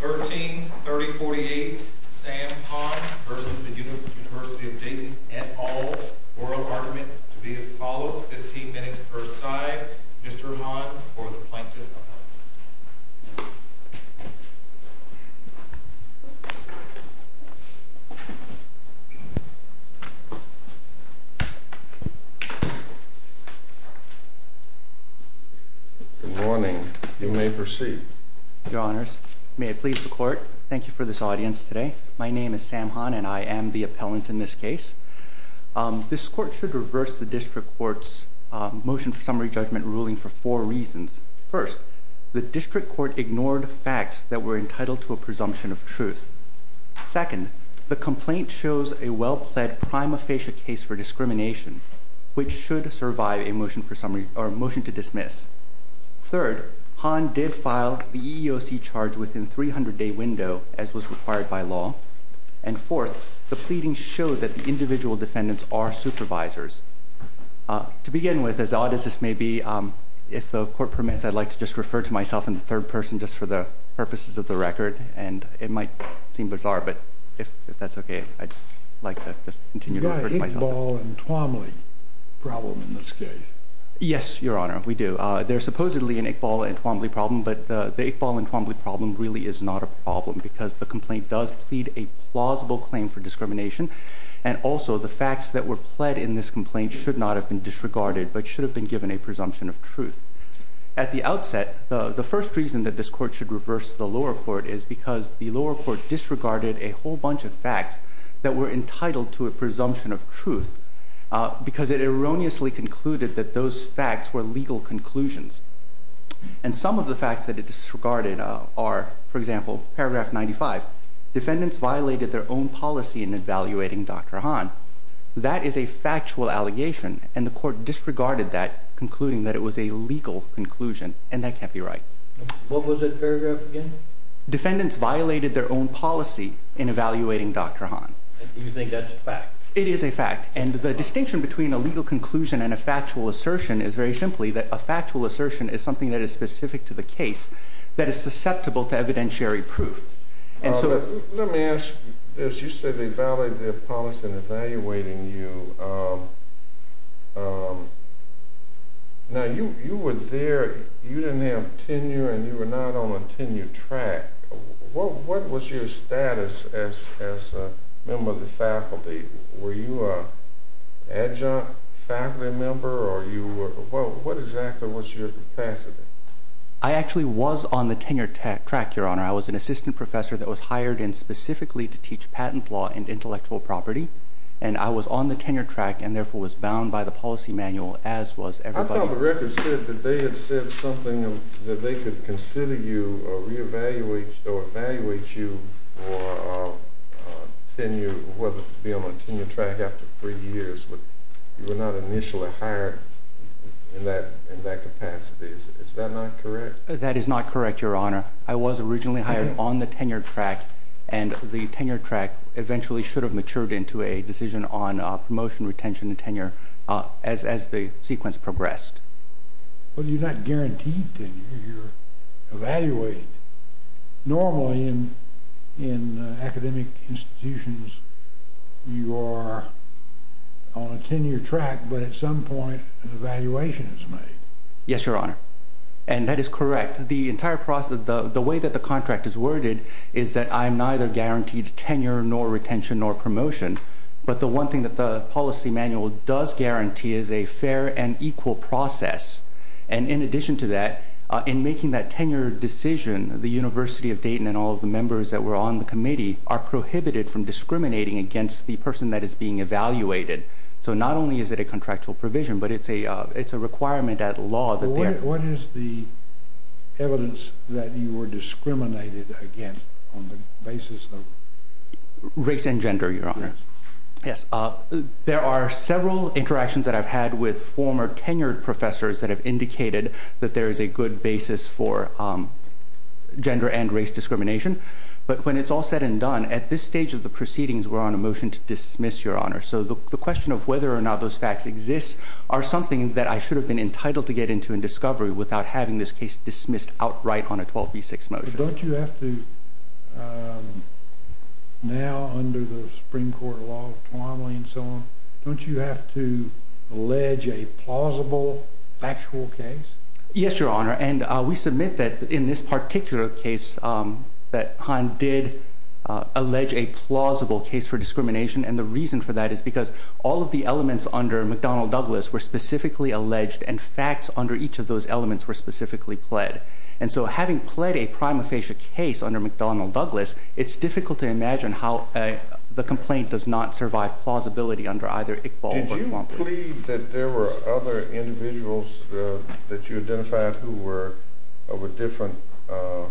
13-3048 Sam Ham v. Univ of Dayton et al. Oral argument to be as follows, 15 minutes per side. Mr. Ham for the Plaintiff. Good morning. You may proceed. Your Honors, may I please the Court, thank you for this audience today. My name is Sam Ham and I am the appellant in this case. This Court should reverse the District Court's motion for summary judgment ruling for four reasons. First, the District Court ignored facts that were entitled to a presumption of truth. Second, the complaint shows a well-pled prima facie case for discrimination, which should survive a motion to dismiss. Third, Han did file the EEOC charge within a 300-day window, as was required by law. And fourth, the pleading showed that the individual defendants are supervisors. To begin with, as odd as this may be, if the Court permits, I'd like to just refer to myself in the third person, just for the purposes of the record. And it might seem bizarre, but if that's okay, I'd like to just continue to refer to myself. You've got an Iqbal and Twombly problem in this case. Yes, Your Honor, we do. They're supposedly an Iqbal and Twombly problem, but the Iqbal and Twombly problem really is not a problem, because the complaint does plead a plausible claim for discrimination. And also, the facts that were pled in this complaint should not have been disregarded, but should have been given a presumption of truth. At the outset, the first reason that this Court should reverse the lower court is because the lower court disregarded a whole bunch of facts that were entitled to a presumption of truth, because it erroneously concluded that those facts were legal conclusions. And some of the facts that it disregarded are, for example, paragraph 95, defendants violated their own policy in evaluating Dr. Hahn. That is a factual allegation, and the Court disregarded that, concluding that it was a legal conclusion, and that can't be right. What was that paragraph again? Defendants violated their own policy in evaluating Dr. Hahn. And you think that's a fact? It is a fact. And the distinction between a legal conclusion and a factual assertion is very simply that a factual assertion is something that is specific to the case that is susceptible to evidentiary proof. Let me ask this. You said they violated their policy in evaluating you. Now, you were there. You didn't have tenure, and you were not on a tenure track. What was your status as a member of the faculty? Were you an adjunct faculty member, or what exactly was your capacity? I actually was on the tenure track, Your Honor. I was an assistant professor that was hired in specifically to teach patent law and intellectual property, and I was on the tenure track, and therefore was bound by the policy manual, as was everybody else. I thought the record said that they had said something that they could consider you, or re-evaluate you, or evaluate you for tenure, whether to be on a tenure track after three years. But you were not initially hired in that capacity. Is that not correct? That is not correct, Your Honor. I was originally hired on the tenure track, and the tenure track eventually should have matured into a decision on promotion, retention, and tenure as the sequence progressed. Well, you're not guaranteed tenure. You're evaluated. Normally, in academic institutions, you are on a tenure track, but at some point, an evaluation is made. Yes, Your Honor, and that is correct. In fact, the way that the contract is worded is that I'm neither guaranteed tenure, nor retention, nor promotion. But the one thing that the policy manual does guarantee is a fair and equal process. And in addition to that, in making that tenure decision, the University of Dayton and all of the members that were on the committee are prohibited from discriminating against the person that is being evaluated. So not only is it a contractual provision, but it's a requirement at law. What is the evidence that you were discriminated against on the basis of? Race and gender, Your Honor. Yes, there are several interactions that I've had with former tenured professors that have indicated that there is a good basis for gender and race discrimination. But when it's all said and done, at this stage of the proceedings, we're on a motion to dismiss, Your Honor. So the question of whether or not those facts exist are something that I should have been able to do in discovery without having this case dismissed outright on a 12b6 motion. But don't you have to, now under the Supreme Court law, Twombly and so on, don't you have to allege a plausible factual case? Yes, Your Honor. And we submit that in this particular case, that Hahn did allege a plausible case for discrimination. And the reason for that is because all of the elements under McDonnell Douglas were specifically alleged, and facts under each of those elements were specifically pled. And so having pled a prima facie case under McDonnell Douglas, it's difficult to imagine how the complaint does not survive plausibility under either Iqbal or Twombly. Did you plead that there were other individuals that you identified who were of a different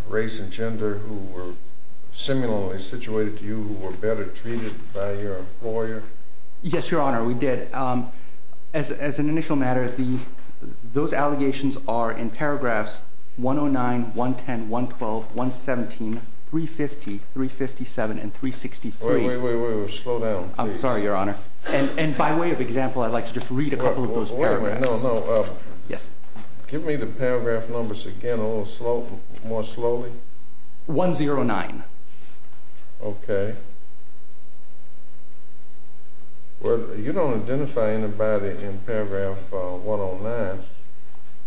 race and gender who were similarly situated to you, who were better treated by your employer? Yes, Your Honor, we did. And as an initial matter, those allegations are in paragraphs 109, 110, 112, 117, 350, 357, and 363. Wait, wait, wait. Slow down, please. I'm sorry, Your Honor. And by way of example, I'd like to just read a couple of those paragraphs. Wait a minute. No, no. Yes. Give me the paragraph numbers again a little more slowly. 109. OK. Well, you don't identify anybody in paragraph 109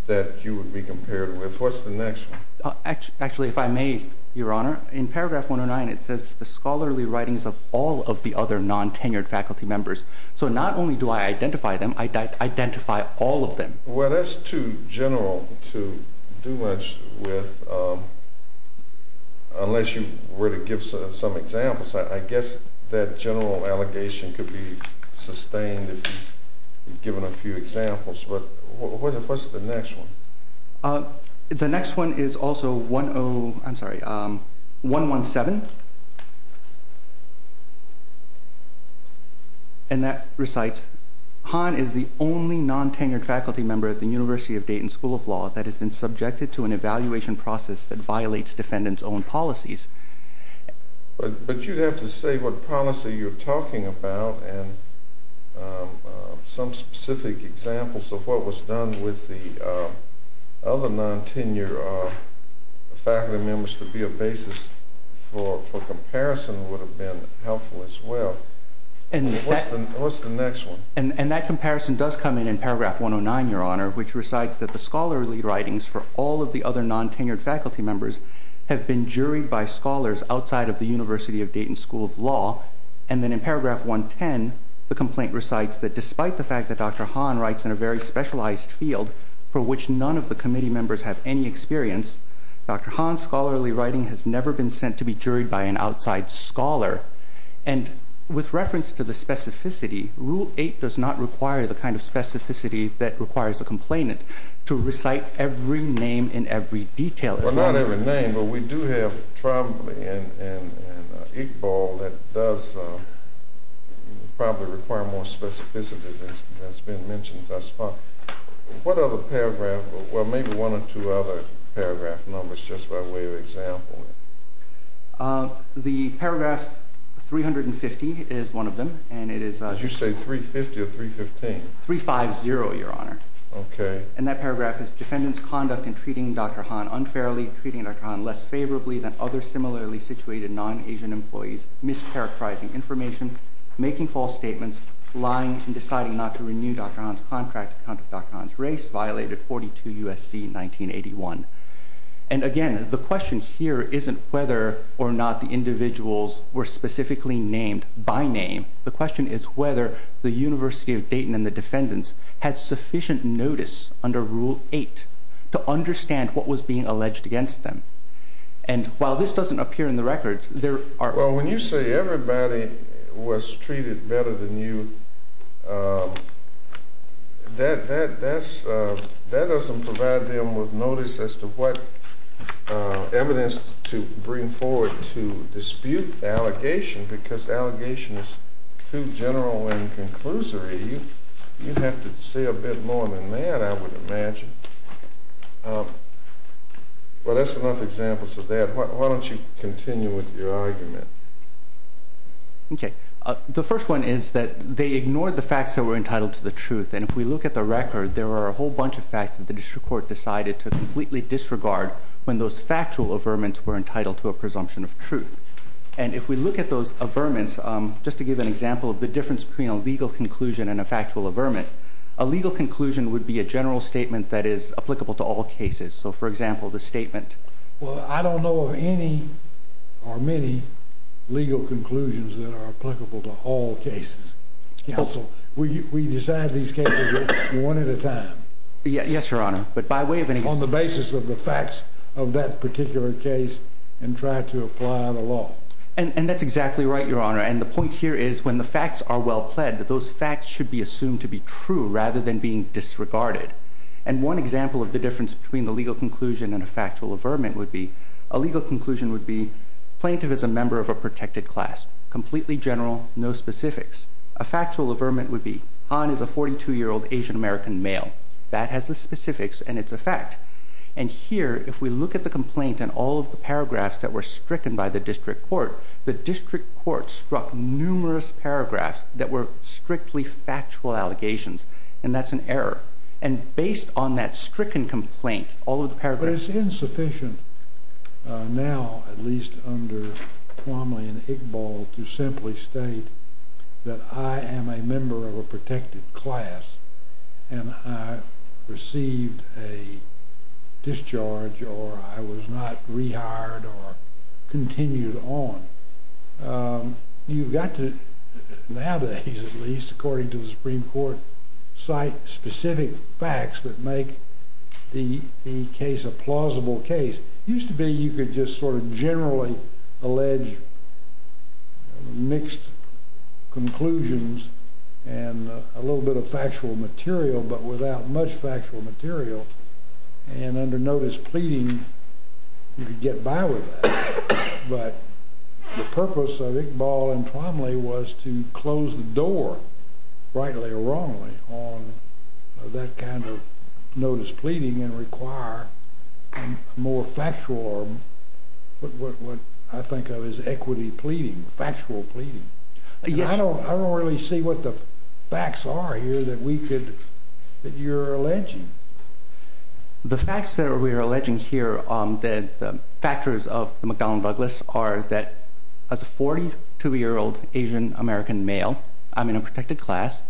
that you would be compared with. What's the next one? Actually, if I may, Your Honor, in paragraph 109, it says the scholarly writings of all of the other non-tenured faculty members. So not only do I identify them, I identify all of them. Well, that's too general to do much with unless you were to give some examples. I guess that general allegation could be sustained if given a few examples. But what's the next one? The next one is also 10, I'm sorry, 117. And that recites, Han is the only non-tenured faculty member at the University of Dayton School of Law that has been subjected to an evaluation process that violates defendants' own policies. But you'd have to say what policy you're talking about and some specific examples of what was done with the other non-tenured faculty members to be a basis for comparison would have been helpful as well. What's the next one? And that comparison does come in in paragraph 109, Your Honor, which recites that the scholarly of the University of Dayton School of Law. And then in paragraph 110, the complaint recites that despite the fact that Dr. Han writes in a very specialized field for which none of the committee members have any experience, Dr. Han's scholarly writing has never been sent to be juried by an outside scholar. And with reference to the specificity, Rule 8 does not require the kind of specificity that requires a complainant to recite every name and every detail. Well, not every name. But we do have Trombley and Iqbal that does probably require more specificity than has been mentioned thus far. What other paragraph? Well, maybe one or two other paragraph numbers just by way of example. The paragraph 350 is one of them. Did you say 350 or 315? 350, Your Honor. OK. And that paragraph is defendants' conduct in treating Dr. Han unfairly, treating Dr. Han less favorably than other similarly situated non-Asian employees, mischaracterizing information, making false statements, lying, and deciding not to renew Dr. Han's contract to counter Dr. Han's race violated 42 U.S.C. 1981. And again, the question here isn't whether or not the individuals were specifically named by name. The question is whether the University of Dayton and the defendants had sufficient notice under Rule 8 to understand what was being alleged against them. And while this doesn't appear in the records, there are... Well, when you say everybody was treated better than you, that doesn't provide them with notice as to what evidence to bring forward to dispute the allegation because the allegation is too general and conclusory. You have to say a bit more than that, I would imagine. Well, that's enough examples of that. Why don't you continue with your argument? OK. The first one is that they ignored the facts that were entitled to the truth. And if we look at the record, there are a whole bunch of facts that the district court decided to completely disregard when those factual averments were entitled to a presumption of truth. And if we look at those averments, just to give an example of the difference between a legal conclusion and a factual averment, a legal conclusion would be a general statement that is applicable to all cases. So, for example, the statement... Well, I don't know of any or many legal conclusions that are applicable to all cases. Counsel, we decide these cases one at a time. Yes, Your Honor. But by way of any... On the basis of the facts of that particular case and try to apply the law. And that's exactly right, Your Honor. And the point here is when the facts are well-pled, those facts should be assumed to be true rather than being disregarded. And one example of the difference between the legal conclusion and a factual averment would be a legal conclusion would be plaintiff is a member of a protected class, completely general, no specifics. A factual averment would be Han is a 42-year-old Asian-American male. That has the specifics and it's a fact. And here, if we look at the complaint and all of the paragraphs that were stricken by the district court, the district court struck numerous paragraphs that were strictly factual allegations, and that's an error. And based on that stricken complaint, all of the paragraphs... But it's insufficient now, at least under Plumlee and Iqbal, to simply state that I am a member of a protected class and I received a discharge or I was not rehired or continued on. You've got to, nowadays at least, according to the Supreme Court, cite specific facts that make the case a plausible case. It used to be you could just sort of generally allege mixed conclusions and a little bit of factual material, but without much factual material. And under notice pleading, you could get by with that. But the purpose of Iqbal and Plumlee was to close the door, rightly or wrongly, on that kind of notice pleading and require more factual, what I think of as equity pleading, factual pleading. I don't really see what the facts are here that you're alleging. The facts that we are alleging here, the factors of McDonnell and Douglas, are that as a 42-year-old Asian-American male, I'm in a protected class,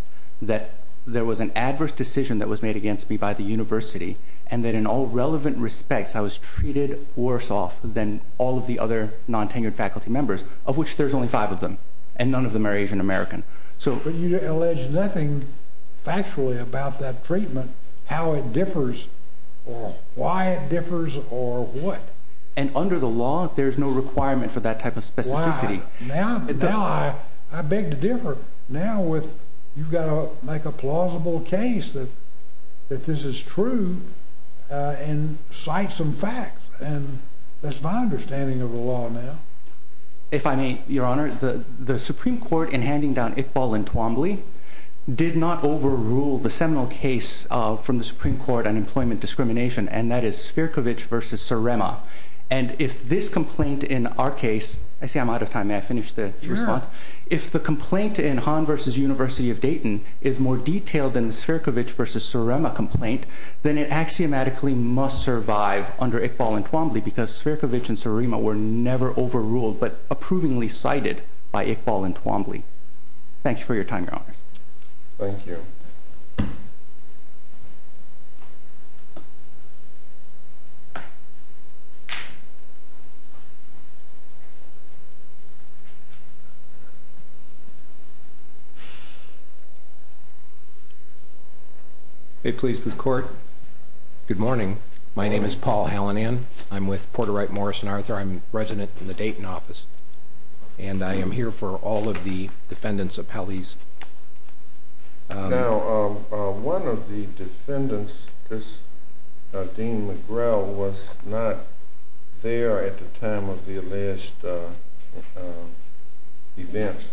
that there was an adverse decision that was made against me by the university and that in all relevant respects I was treated worse off than all of the other non-tenured faculty members, of which there's only five of them, and none of them are Asian-American. But you allege nothing factually about that treatment, how it differs or why it differs or what. And under the law there's no requirement for that type of specificity. Why? Now I beg to differ. Now you've got to make a plausible case that this is true and cite some facts. And that's my understanding of the law now. If I may, Your Honor, the Supreme Court in handing down Iqbal and Twombly did not overrule the seminal case from the Supreme Court on employment discrimination, and that is Svirkovich v. Surrema. And if this complaint in our case – I see I'm out of time. May I finish the response? Sure. If the complaint in Hahn v. University of Dayton is more detailed than the Svirkovich v. Surrema complaint, then it axiomatically must survive under Iqbal and Twombly because Svirkovich and Surrema were never overruled but approvingly cited by Iqbal and Twombly. Thank you for your time, Your Honor. Thank you. May it please the Court, good morning. Good morning. My name is Paul Hallinan. I'm with Porter Wright Morris and Arthur. I'm resident in the Dayton office, and I am here for all of the defendants' appellees. Now, one of the defendants, this Dean McGrell, was not there at the time of the alleged events.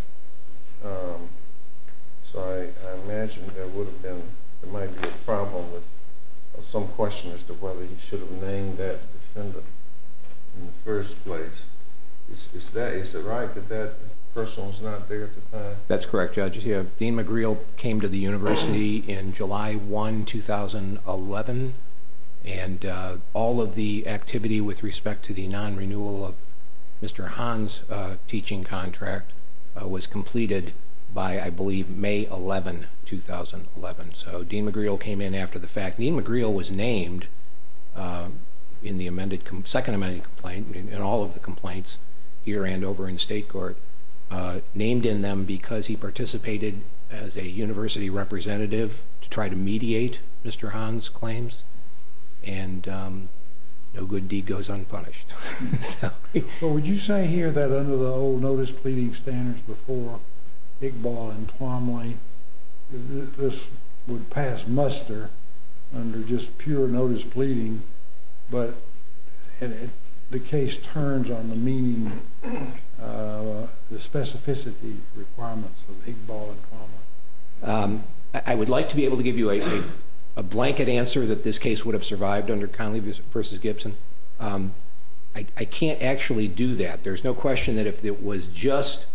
So I imagine there would have been – there might be a problem with some question as to whether he should have named that defendant in the first place. Is it right that that person was not there at the time? That's correct, Judge. Dean McGrell came to the university in July 1, 2011, and all of the activity with respect to the non-renewal of Mr. Hahn's teaching contract was completed by, I believe, May 11, 2011. So Dean McGrell came in after the fact. Dean McGrell was named in the amended – second amended complaint, in all of the complaints here and over in state court, named in them because he participated as a university representative to try to mediate Mr. Hahn's claims. And no good deed goes unpunished. So would you say here that under the old notice pleading standards before Iqbal and Twomley, this would pass muster under just pure notice pleading, but the case turns on the meaning, the specificity requirements of Iqbal and Twomley? I would like to be able to give you a blanket answer that this case would have survived under Conley v. Gibson. I can't actually do that. There's no question that if it was just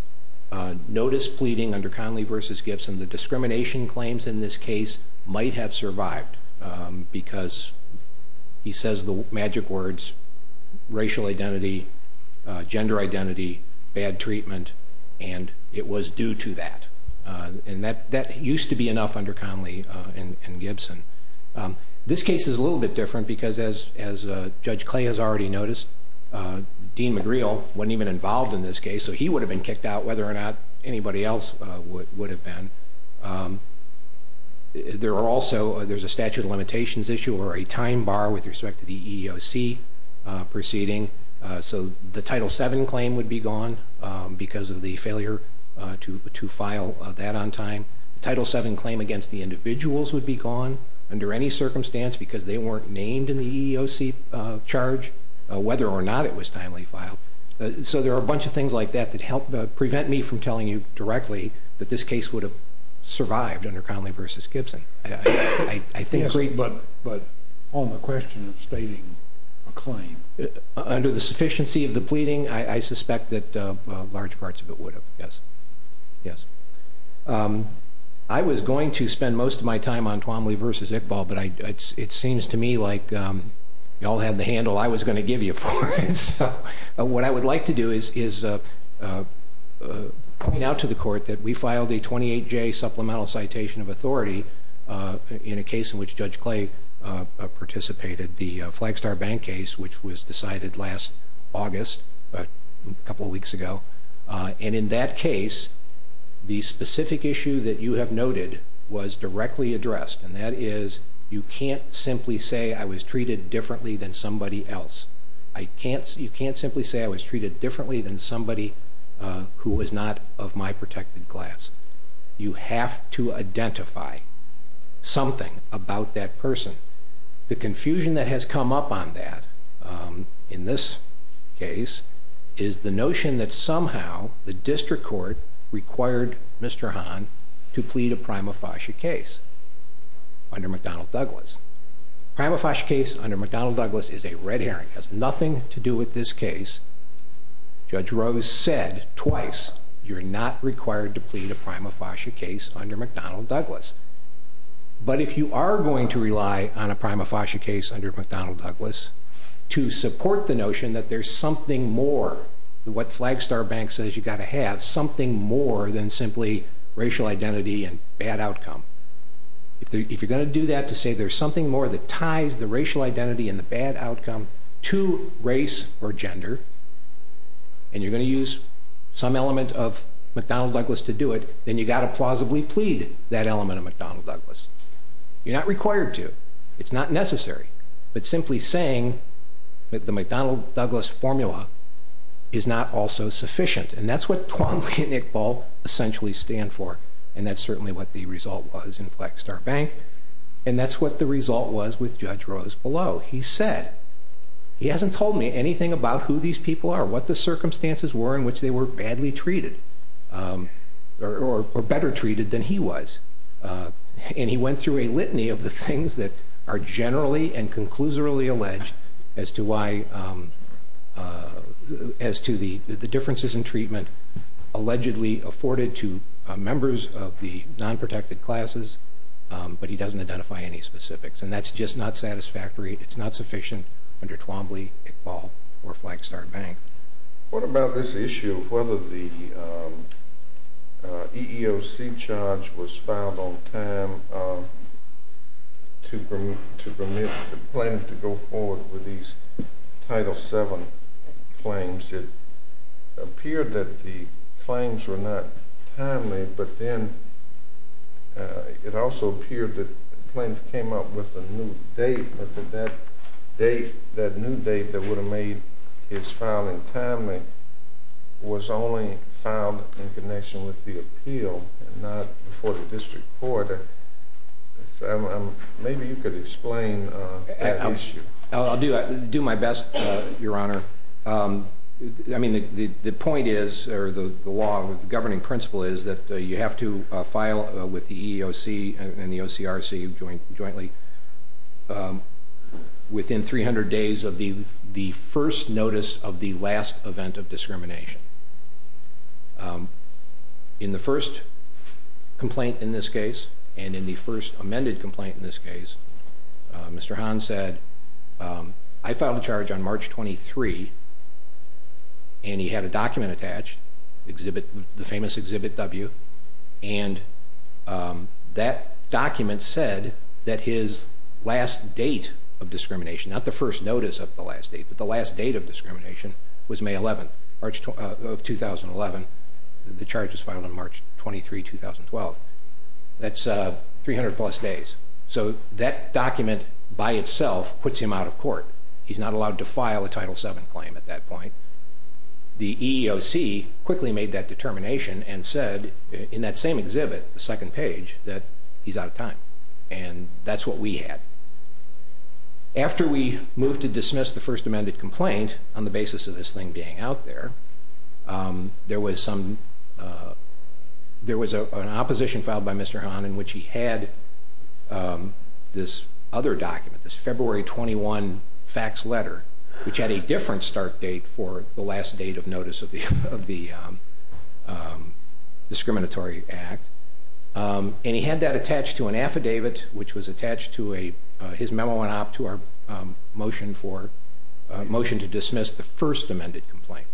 notice pleading under Conley v. Gibson, the discrimination claims in this case might have survived because he says the magic words racial identity, gender identity, bad treatment, and it was due to that. And that used to be enough under Conley v. Gibson. This case is a little bit different because as Judge Clay has already noticed, Dean McGrell wasn't even involved in this case, so he would have been kicked out whether or not anybody else would have been. There are also – there's a statute of limitations issue or a time bar with respect to the EEOC proceeding. So the Title VII claim would be gone because of the failure to file that on time. Title VII claim against the individuals would be gone under any circumstance because they weren't named in the EEOC charge whether or not it was timely filed. So there are a bunch of things like that that help prevent me from telling you directly that this case would have survived under Conley v. Gibson. Yes, but on the question of stating a claim. Under the sufficiency of the pleading, I suspect that large parts of it would have, yes. I was going to spend most of my time on Conley v. Iqbal, but it seems to me like you all have the handle I was going to give you for it. What I would like to do is point out to the Court that we filed a 28-J supplemental citation of authority in a case in which Judge Clay participated, the Flagstar Bank case, which was decided last August, a couple of weeks ago. And in that case, the specific issue that you have noted was directly addressed, and that is you can't simply say I was treated differently than somebody else. You can't simply say I was treated differently than somebody who was not of my protected class. You have to identify something about that person. The confusion that has come up on that in this case is the notion that somehow the District Court required Mr. Hahn to plead a prima facie case under McDonnell Douglas. A prima facie case under McDonnell Douglas is a red herring. It has nothing to do with this case. Judge Rose said twice you're not required to plead a prima facie case under McDonnell Douglas. But if you are going to rely on a prima facie case under McDonnell Douglas to support the notion that there's something more than what Flagstar Bank says you've got to have, something more than simply racial identity and bad outcome, if you're going to do that to say there's something more that ties the racial identity and the bad outcome to race or gender, and you're going to use some element of McDonnell Douglas to do it, then you've got to plausibly plead that element of McDonnell Douglas. You're not required to. It's not necessary. But simply saying that the McDonnell Douglas formula is not also sufficient, and that's what Twombly and Iqbal essentially stand for, and that's certainly what the result was in Flagstar Bank, and that's what the result was with Judge Rose below. He said he hasn't told me anything about who these people are, what the circumstances were in which they were badly treated or better treated than he was, and he went through a litany of the things that are generally and conclusively alleged as to the differences in treatment allegedly afforded to members of the non-protected classes, but he doesn't identify any specifics. And that's just not satisfactory. It's not sufficient under Twombly, Iqbal, or Flagstar Bank. What about this issue of whether the EEOC charge was filed on time to permit the plaintiff to go forward with these Title VII claims? It appeared that the claims were not timely, but then it also appeared that the plaintiff came up with a new date, but that that new date that would have made his filing timely was only filed in connection with the appeal and not before the district court, so maybe you could explain that issue. I'll do my best, Your Honor. I mean, the point is, or the law, the governing principle is that you have to file with the EEOC and the OCRC jointly within 300 days of the first notice of the last event of discrimination. In the first complaint in this case, and in the first amended complaint in this case, Mr. Hahn said, I filed a charge on March 23, and he had a document attached, the famous Exhibit W, and that document said that his last date of discrimination, not the first notice of the last date, but the last date of discrimination was May 11th of 2011. The charge was filed on March 23, 2012. That's 300 plus days, so that document by itself puts him out of court. He's not allowed to file a Title VII claim at that point. The EEOC quickly made that determination and said in that same exhibit, the second page, that he's out of time, and that's what we had. After we moved to dismiss the first amended complaint on the basis of this thing being out there, there was an opposition filed by Mr. Hahn in which he had this other document, this February 21 fax letter, which had a different start date for the last date of notice of the discriminatory act, and he had that attached to an affidavit, which was attached to his memo and op to our motion for a motion to dismiss the first amended complaint.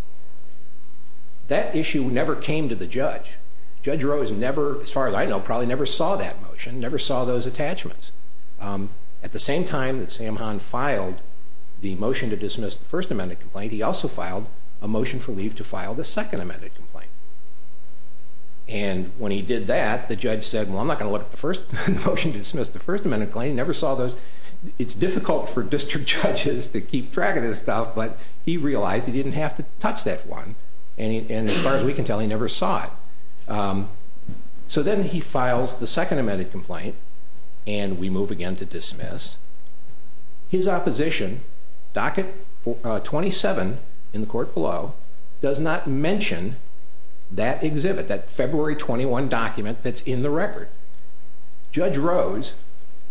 That issue never came to the judge. Judge Rowe has never, as far as I know, probably never saw that motion, never saw those attachments. At the same time that Sam Hahn filed the motion to dismiss the first amended complaint, he also filed a motion for leave to file the second amended complaint, and when he did that, the judge said, well, I'm not going to look at the motion to dismiss the first amended claim. It's difficult for district judges to keep track of this stuff, but he realized he didn't have to touch that one, and as far as we can tell, he never saw it. So then he files the second amended complaint, and we move again to dismiss. His opposition, docket 27 in the court below, does not mention that exhibit, that February 21 document that's in the record. Judge Rowe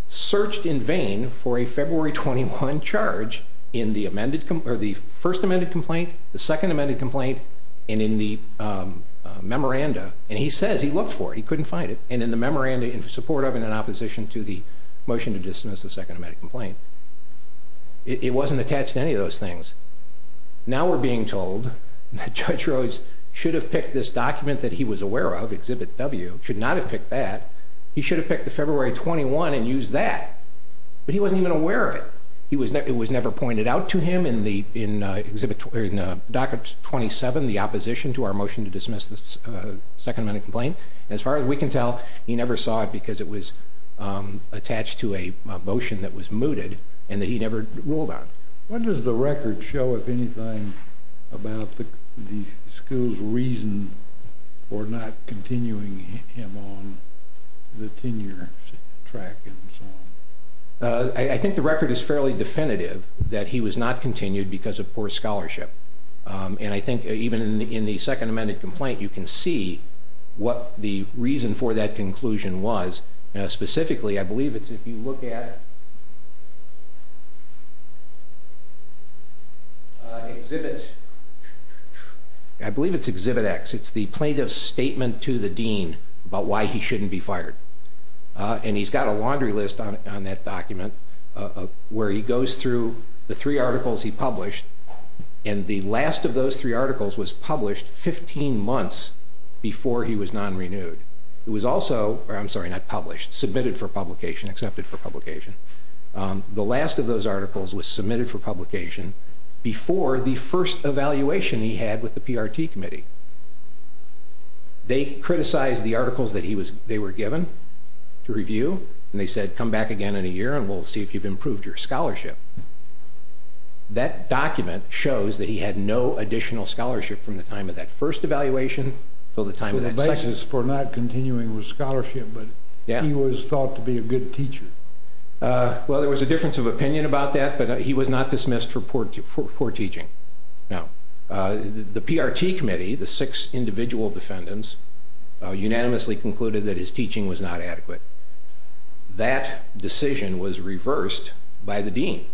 searched in vain for a February 21 charge in the first amended complaint, the second amended complaint, and in the memoranda, and he says he looked for it, he couldn't find it, and in the memoranda in support of and in opposition to the motion to dismiss the second amended complaint. It wasn't attached to any of those things. Now we're being told that Judge Rowe should have picked this document that he was aware of, exhibit W, should not have picked that. He should have picked the February 21 and used that, but he wasn't even aware of it. It was never pointed out to him in docket 27, the opposition to our motion to dismiss the second amended complaint, and as far as we can tell, he never saw it because it was attached to a motion that was mooted and that he never ruled on. What does the record show, if anything, about the school's reason for not continuing him on the tenure track and so on? I think the record is fairly definitive that he was not continued because of poor scholarship, and I think even in the second amended complaint you can see what the reason for that conclusion was. Specifically, I believe it's if you look at exhibit X. It's the plaintiff's statement to the dean about why he shouldn't be fired, and he's got a laundry list on that document where he goes through the three articles he published, and the last of those three articles was published 15 months before he was non-renewed. It was also submitted for publication, accepted for publication. The last of those articles was submitted for publication before the first evaluation he had with the PRT committee. They criticized the articles that they were given to review, and they said, come back again in a year and we'll see if you've improved your scholarship. That document shows that he had no additional scholarship from the time of that first evaluation until the time of that second. There were chances for not continuing with scholarship, but he was thought to be a good teacher. Well, there was a difference of opinion about that, but he was not dismissed for poor teaching. The PRT committee, the six individual defendants, unanimously concluded that his teaching was not adequate. That decision was reversed by the dean.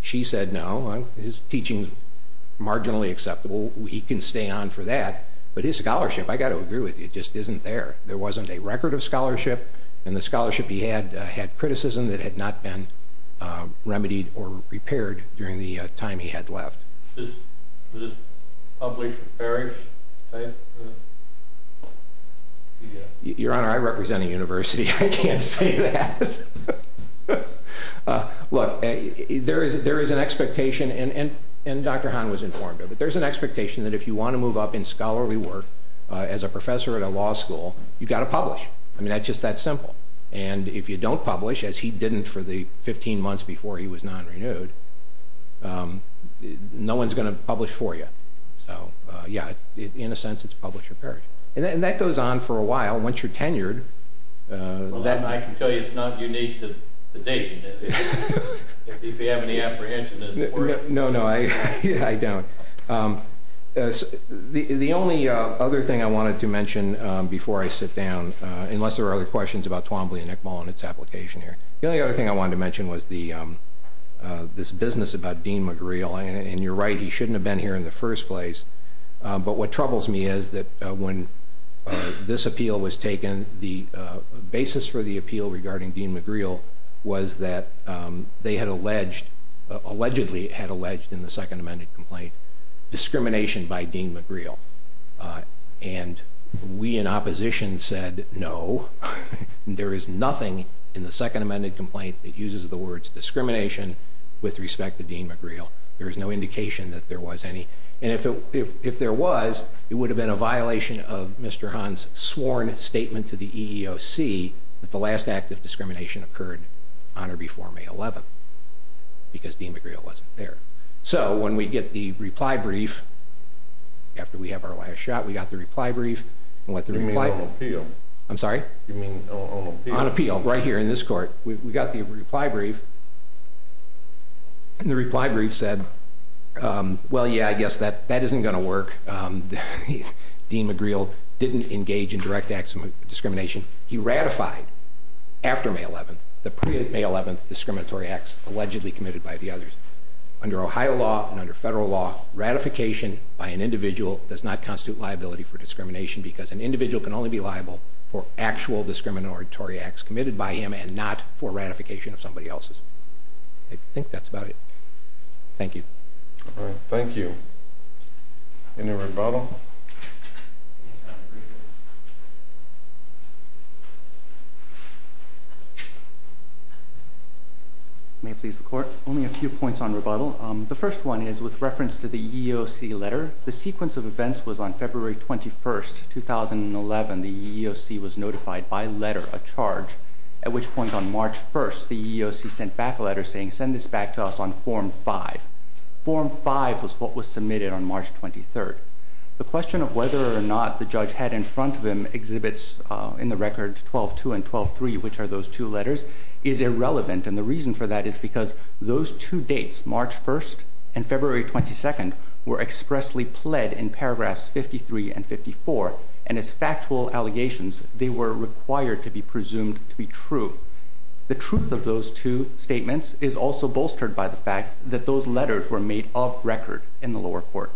She said, no, his teaching is marginally acceptable. He can stay on for that, but his scholarship, I've got to agree with you, just isn't there. There wasn't a record of scholarship, and the scholarship he had had criticism that had not been remedied or repaired during the time he had left. Was this published in Paris? Your Honor, I represent a university. I can't say that. Look, there is an expectation, and Dr. Hahn was informed of it, there's an expectation that if you want to move up in scholarly work as a professor at a law school, you've got to publish. I mean, that's just that simple. And if you don't publish, as he didn't for the 15 months before he was non-renewed, no one's going to publish for you. So, yeah, in a sense, it's publish or perish. And that goes on for a while. Once you're tenured, that I can tell you it's not unique to Dayton, if you have any apprehension. No, no, I don't. The only other thing I wanted to mention before I sit down, unless there are other questions about Twombly and Iqbal and its application here, the only other thing I wanted to mention was this business about Dean McGreal. And you're right, he shouldn't have been here in the first place. But what troubles me is that when this appeal was taken, the basis for the appeal regarding Dean McGreal was that they had alleged, allegedly had alleged in the second amended complaint, discrimination by Dean McGreal. And we in opposition said, no, there is nothing in the second amended complaint that uses the words discrimination with respect to Dean McGreal. There is no indication that there was any. And if there was, it would have been a violation of Mr. Hahn's sworn statement to the EEOC that the last act of discrimination occurred on or before May 11th, because Dean McGreal wasn't there. So when we get the reply brief, after we have our last shot, we got the reply brief. You mean on appeal? I'm sorry? You mean on appeal? On appeal, right here in this court. We got the reply brief. And the reply brief said, well, yeah, I guess that isn't going to work. Dean McGreal didn't engage in direct acts of discrimination. He ratified after May 11th the pre-May 11th discriminatory acts allegedly committed by the others. Under Ohio law and under federal law, ratification by an individual does not constitute liability for discrimination because an individual can only be liable for actual discriminatory acts committed by him and not for ratification of somebody else's. I think that's about it. Thank you. All right. Thank you. Any rebuttal? May it please the Court? Only a few points on rebuttal. The first one is with reference to the EEOC letter. The sequence of events was on February 21st, 2011. The EEOC was notified by letter of charge, at which point on March 1st the EEOC sent back a letter saying, send this back to us on Form 5. Form 5 was what was submitted on March 23rd. The question of whether or not the judge had in front of him exhibits in the records 12-2 and 12-3, which are those two letters, is irrelevant. And the reason for that is because those two dates, March 1st and February 22nd, were expressly pled in paragraphs 53 and 54. And as factual allegations, they were required to be presumed to be true. The truth of those two statements is also bolstered by the fact that those letters were made off record in the lower court.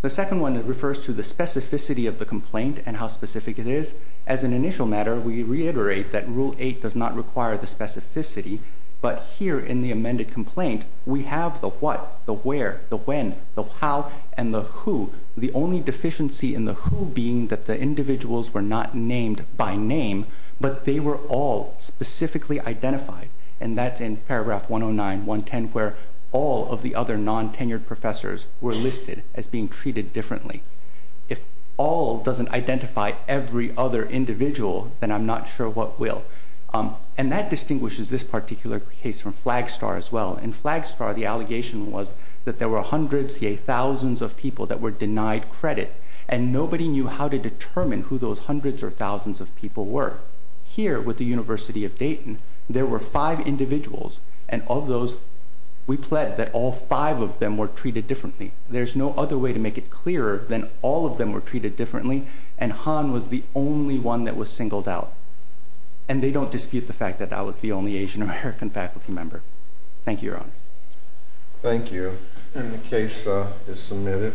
The second one refers to the specificity of the complaint and how specific it is. As an initial matter, we reiterate that Rule 8 does not require the specificity, but here in the amended complaint we have the what, the where, the when, the how, and the who. The only deficiency in the who being that the individuals were not named by name, but they were all specifically identified. And that's in paragraph 109, 110, where all of the other non-tenured professors were listed as being treated differently. If all doesn't identify every other individual, then I'm not sure what will. And that distinguishes this particular case from Flagstar as well. In Flagstar, the allegation was that there were hundreds, yay, thousands of people that were denied credit, and nobody knew how to determine who those hundreds or thousands of people were. Here, with the University of Dayton, there were five individuals, and of those we pled that all five of them were treated differently. There's no other way to make it clearer than all of them were treated differently, and Han was the only one that was singled out. And they don't dispute the fact that I was the only Asian-American faculty member. Thank you, Your Honor. Thank you. And the case is submitted.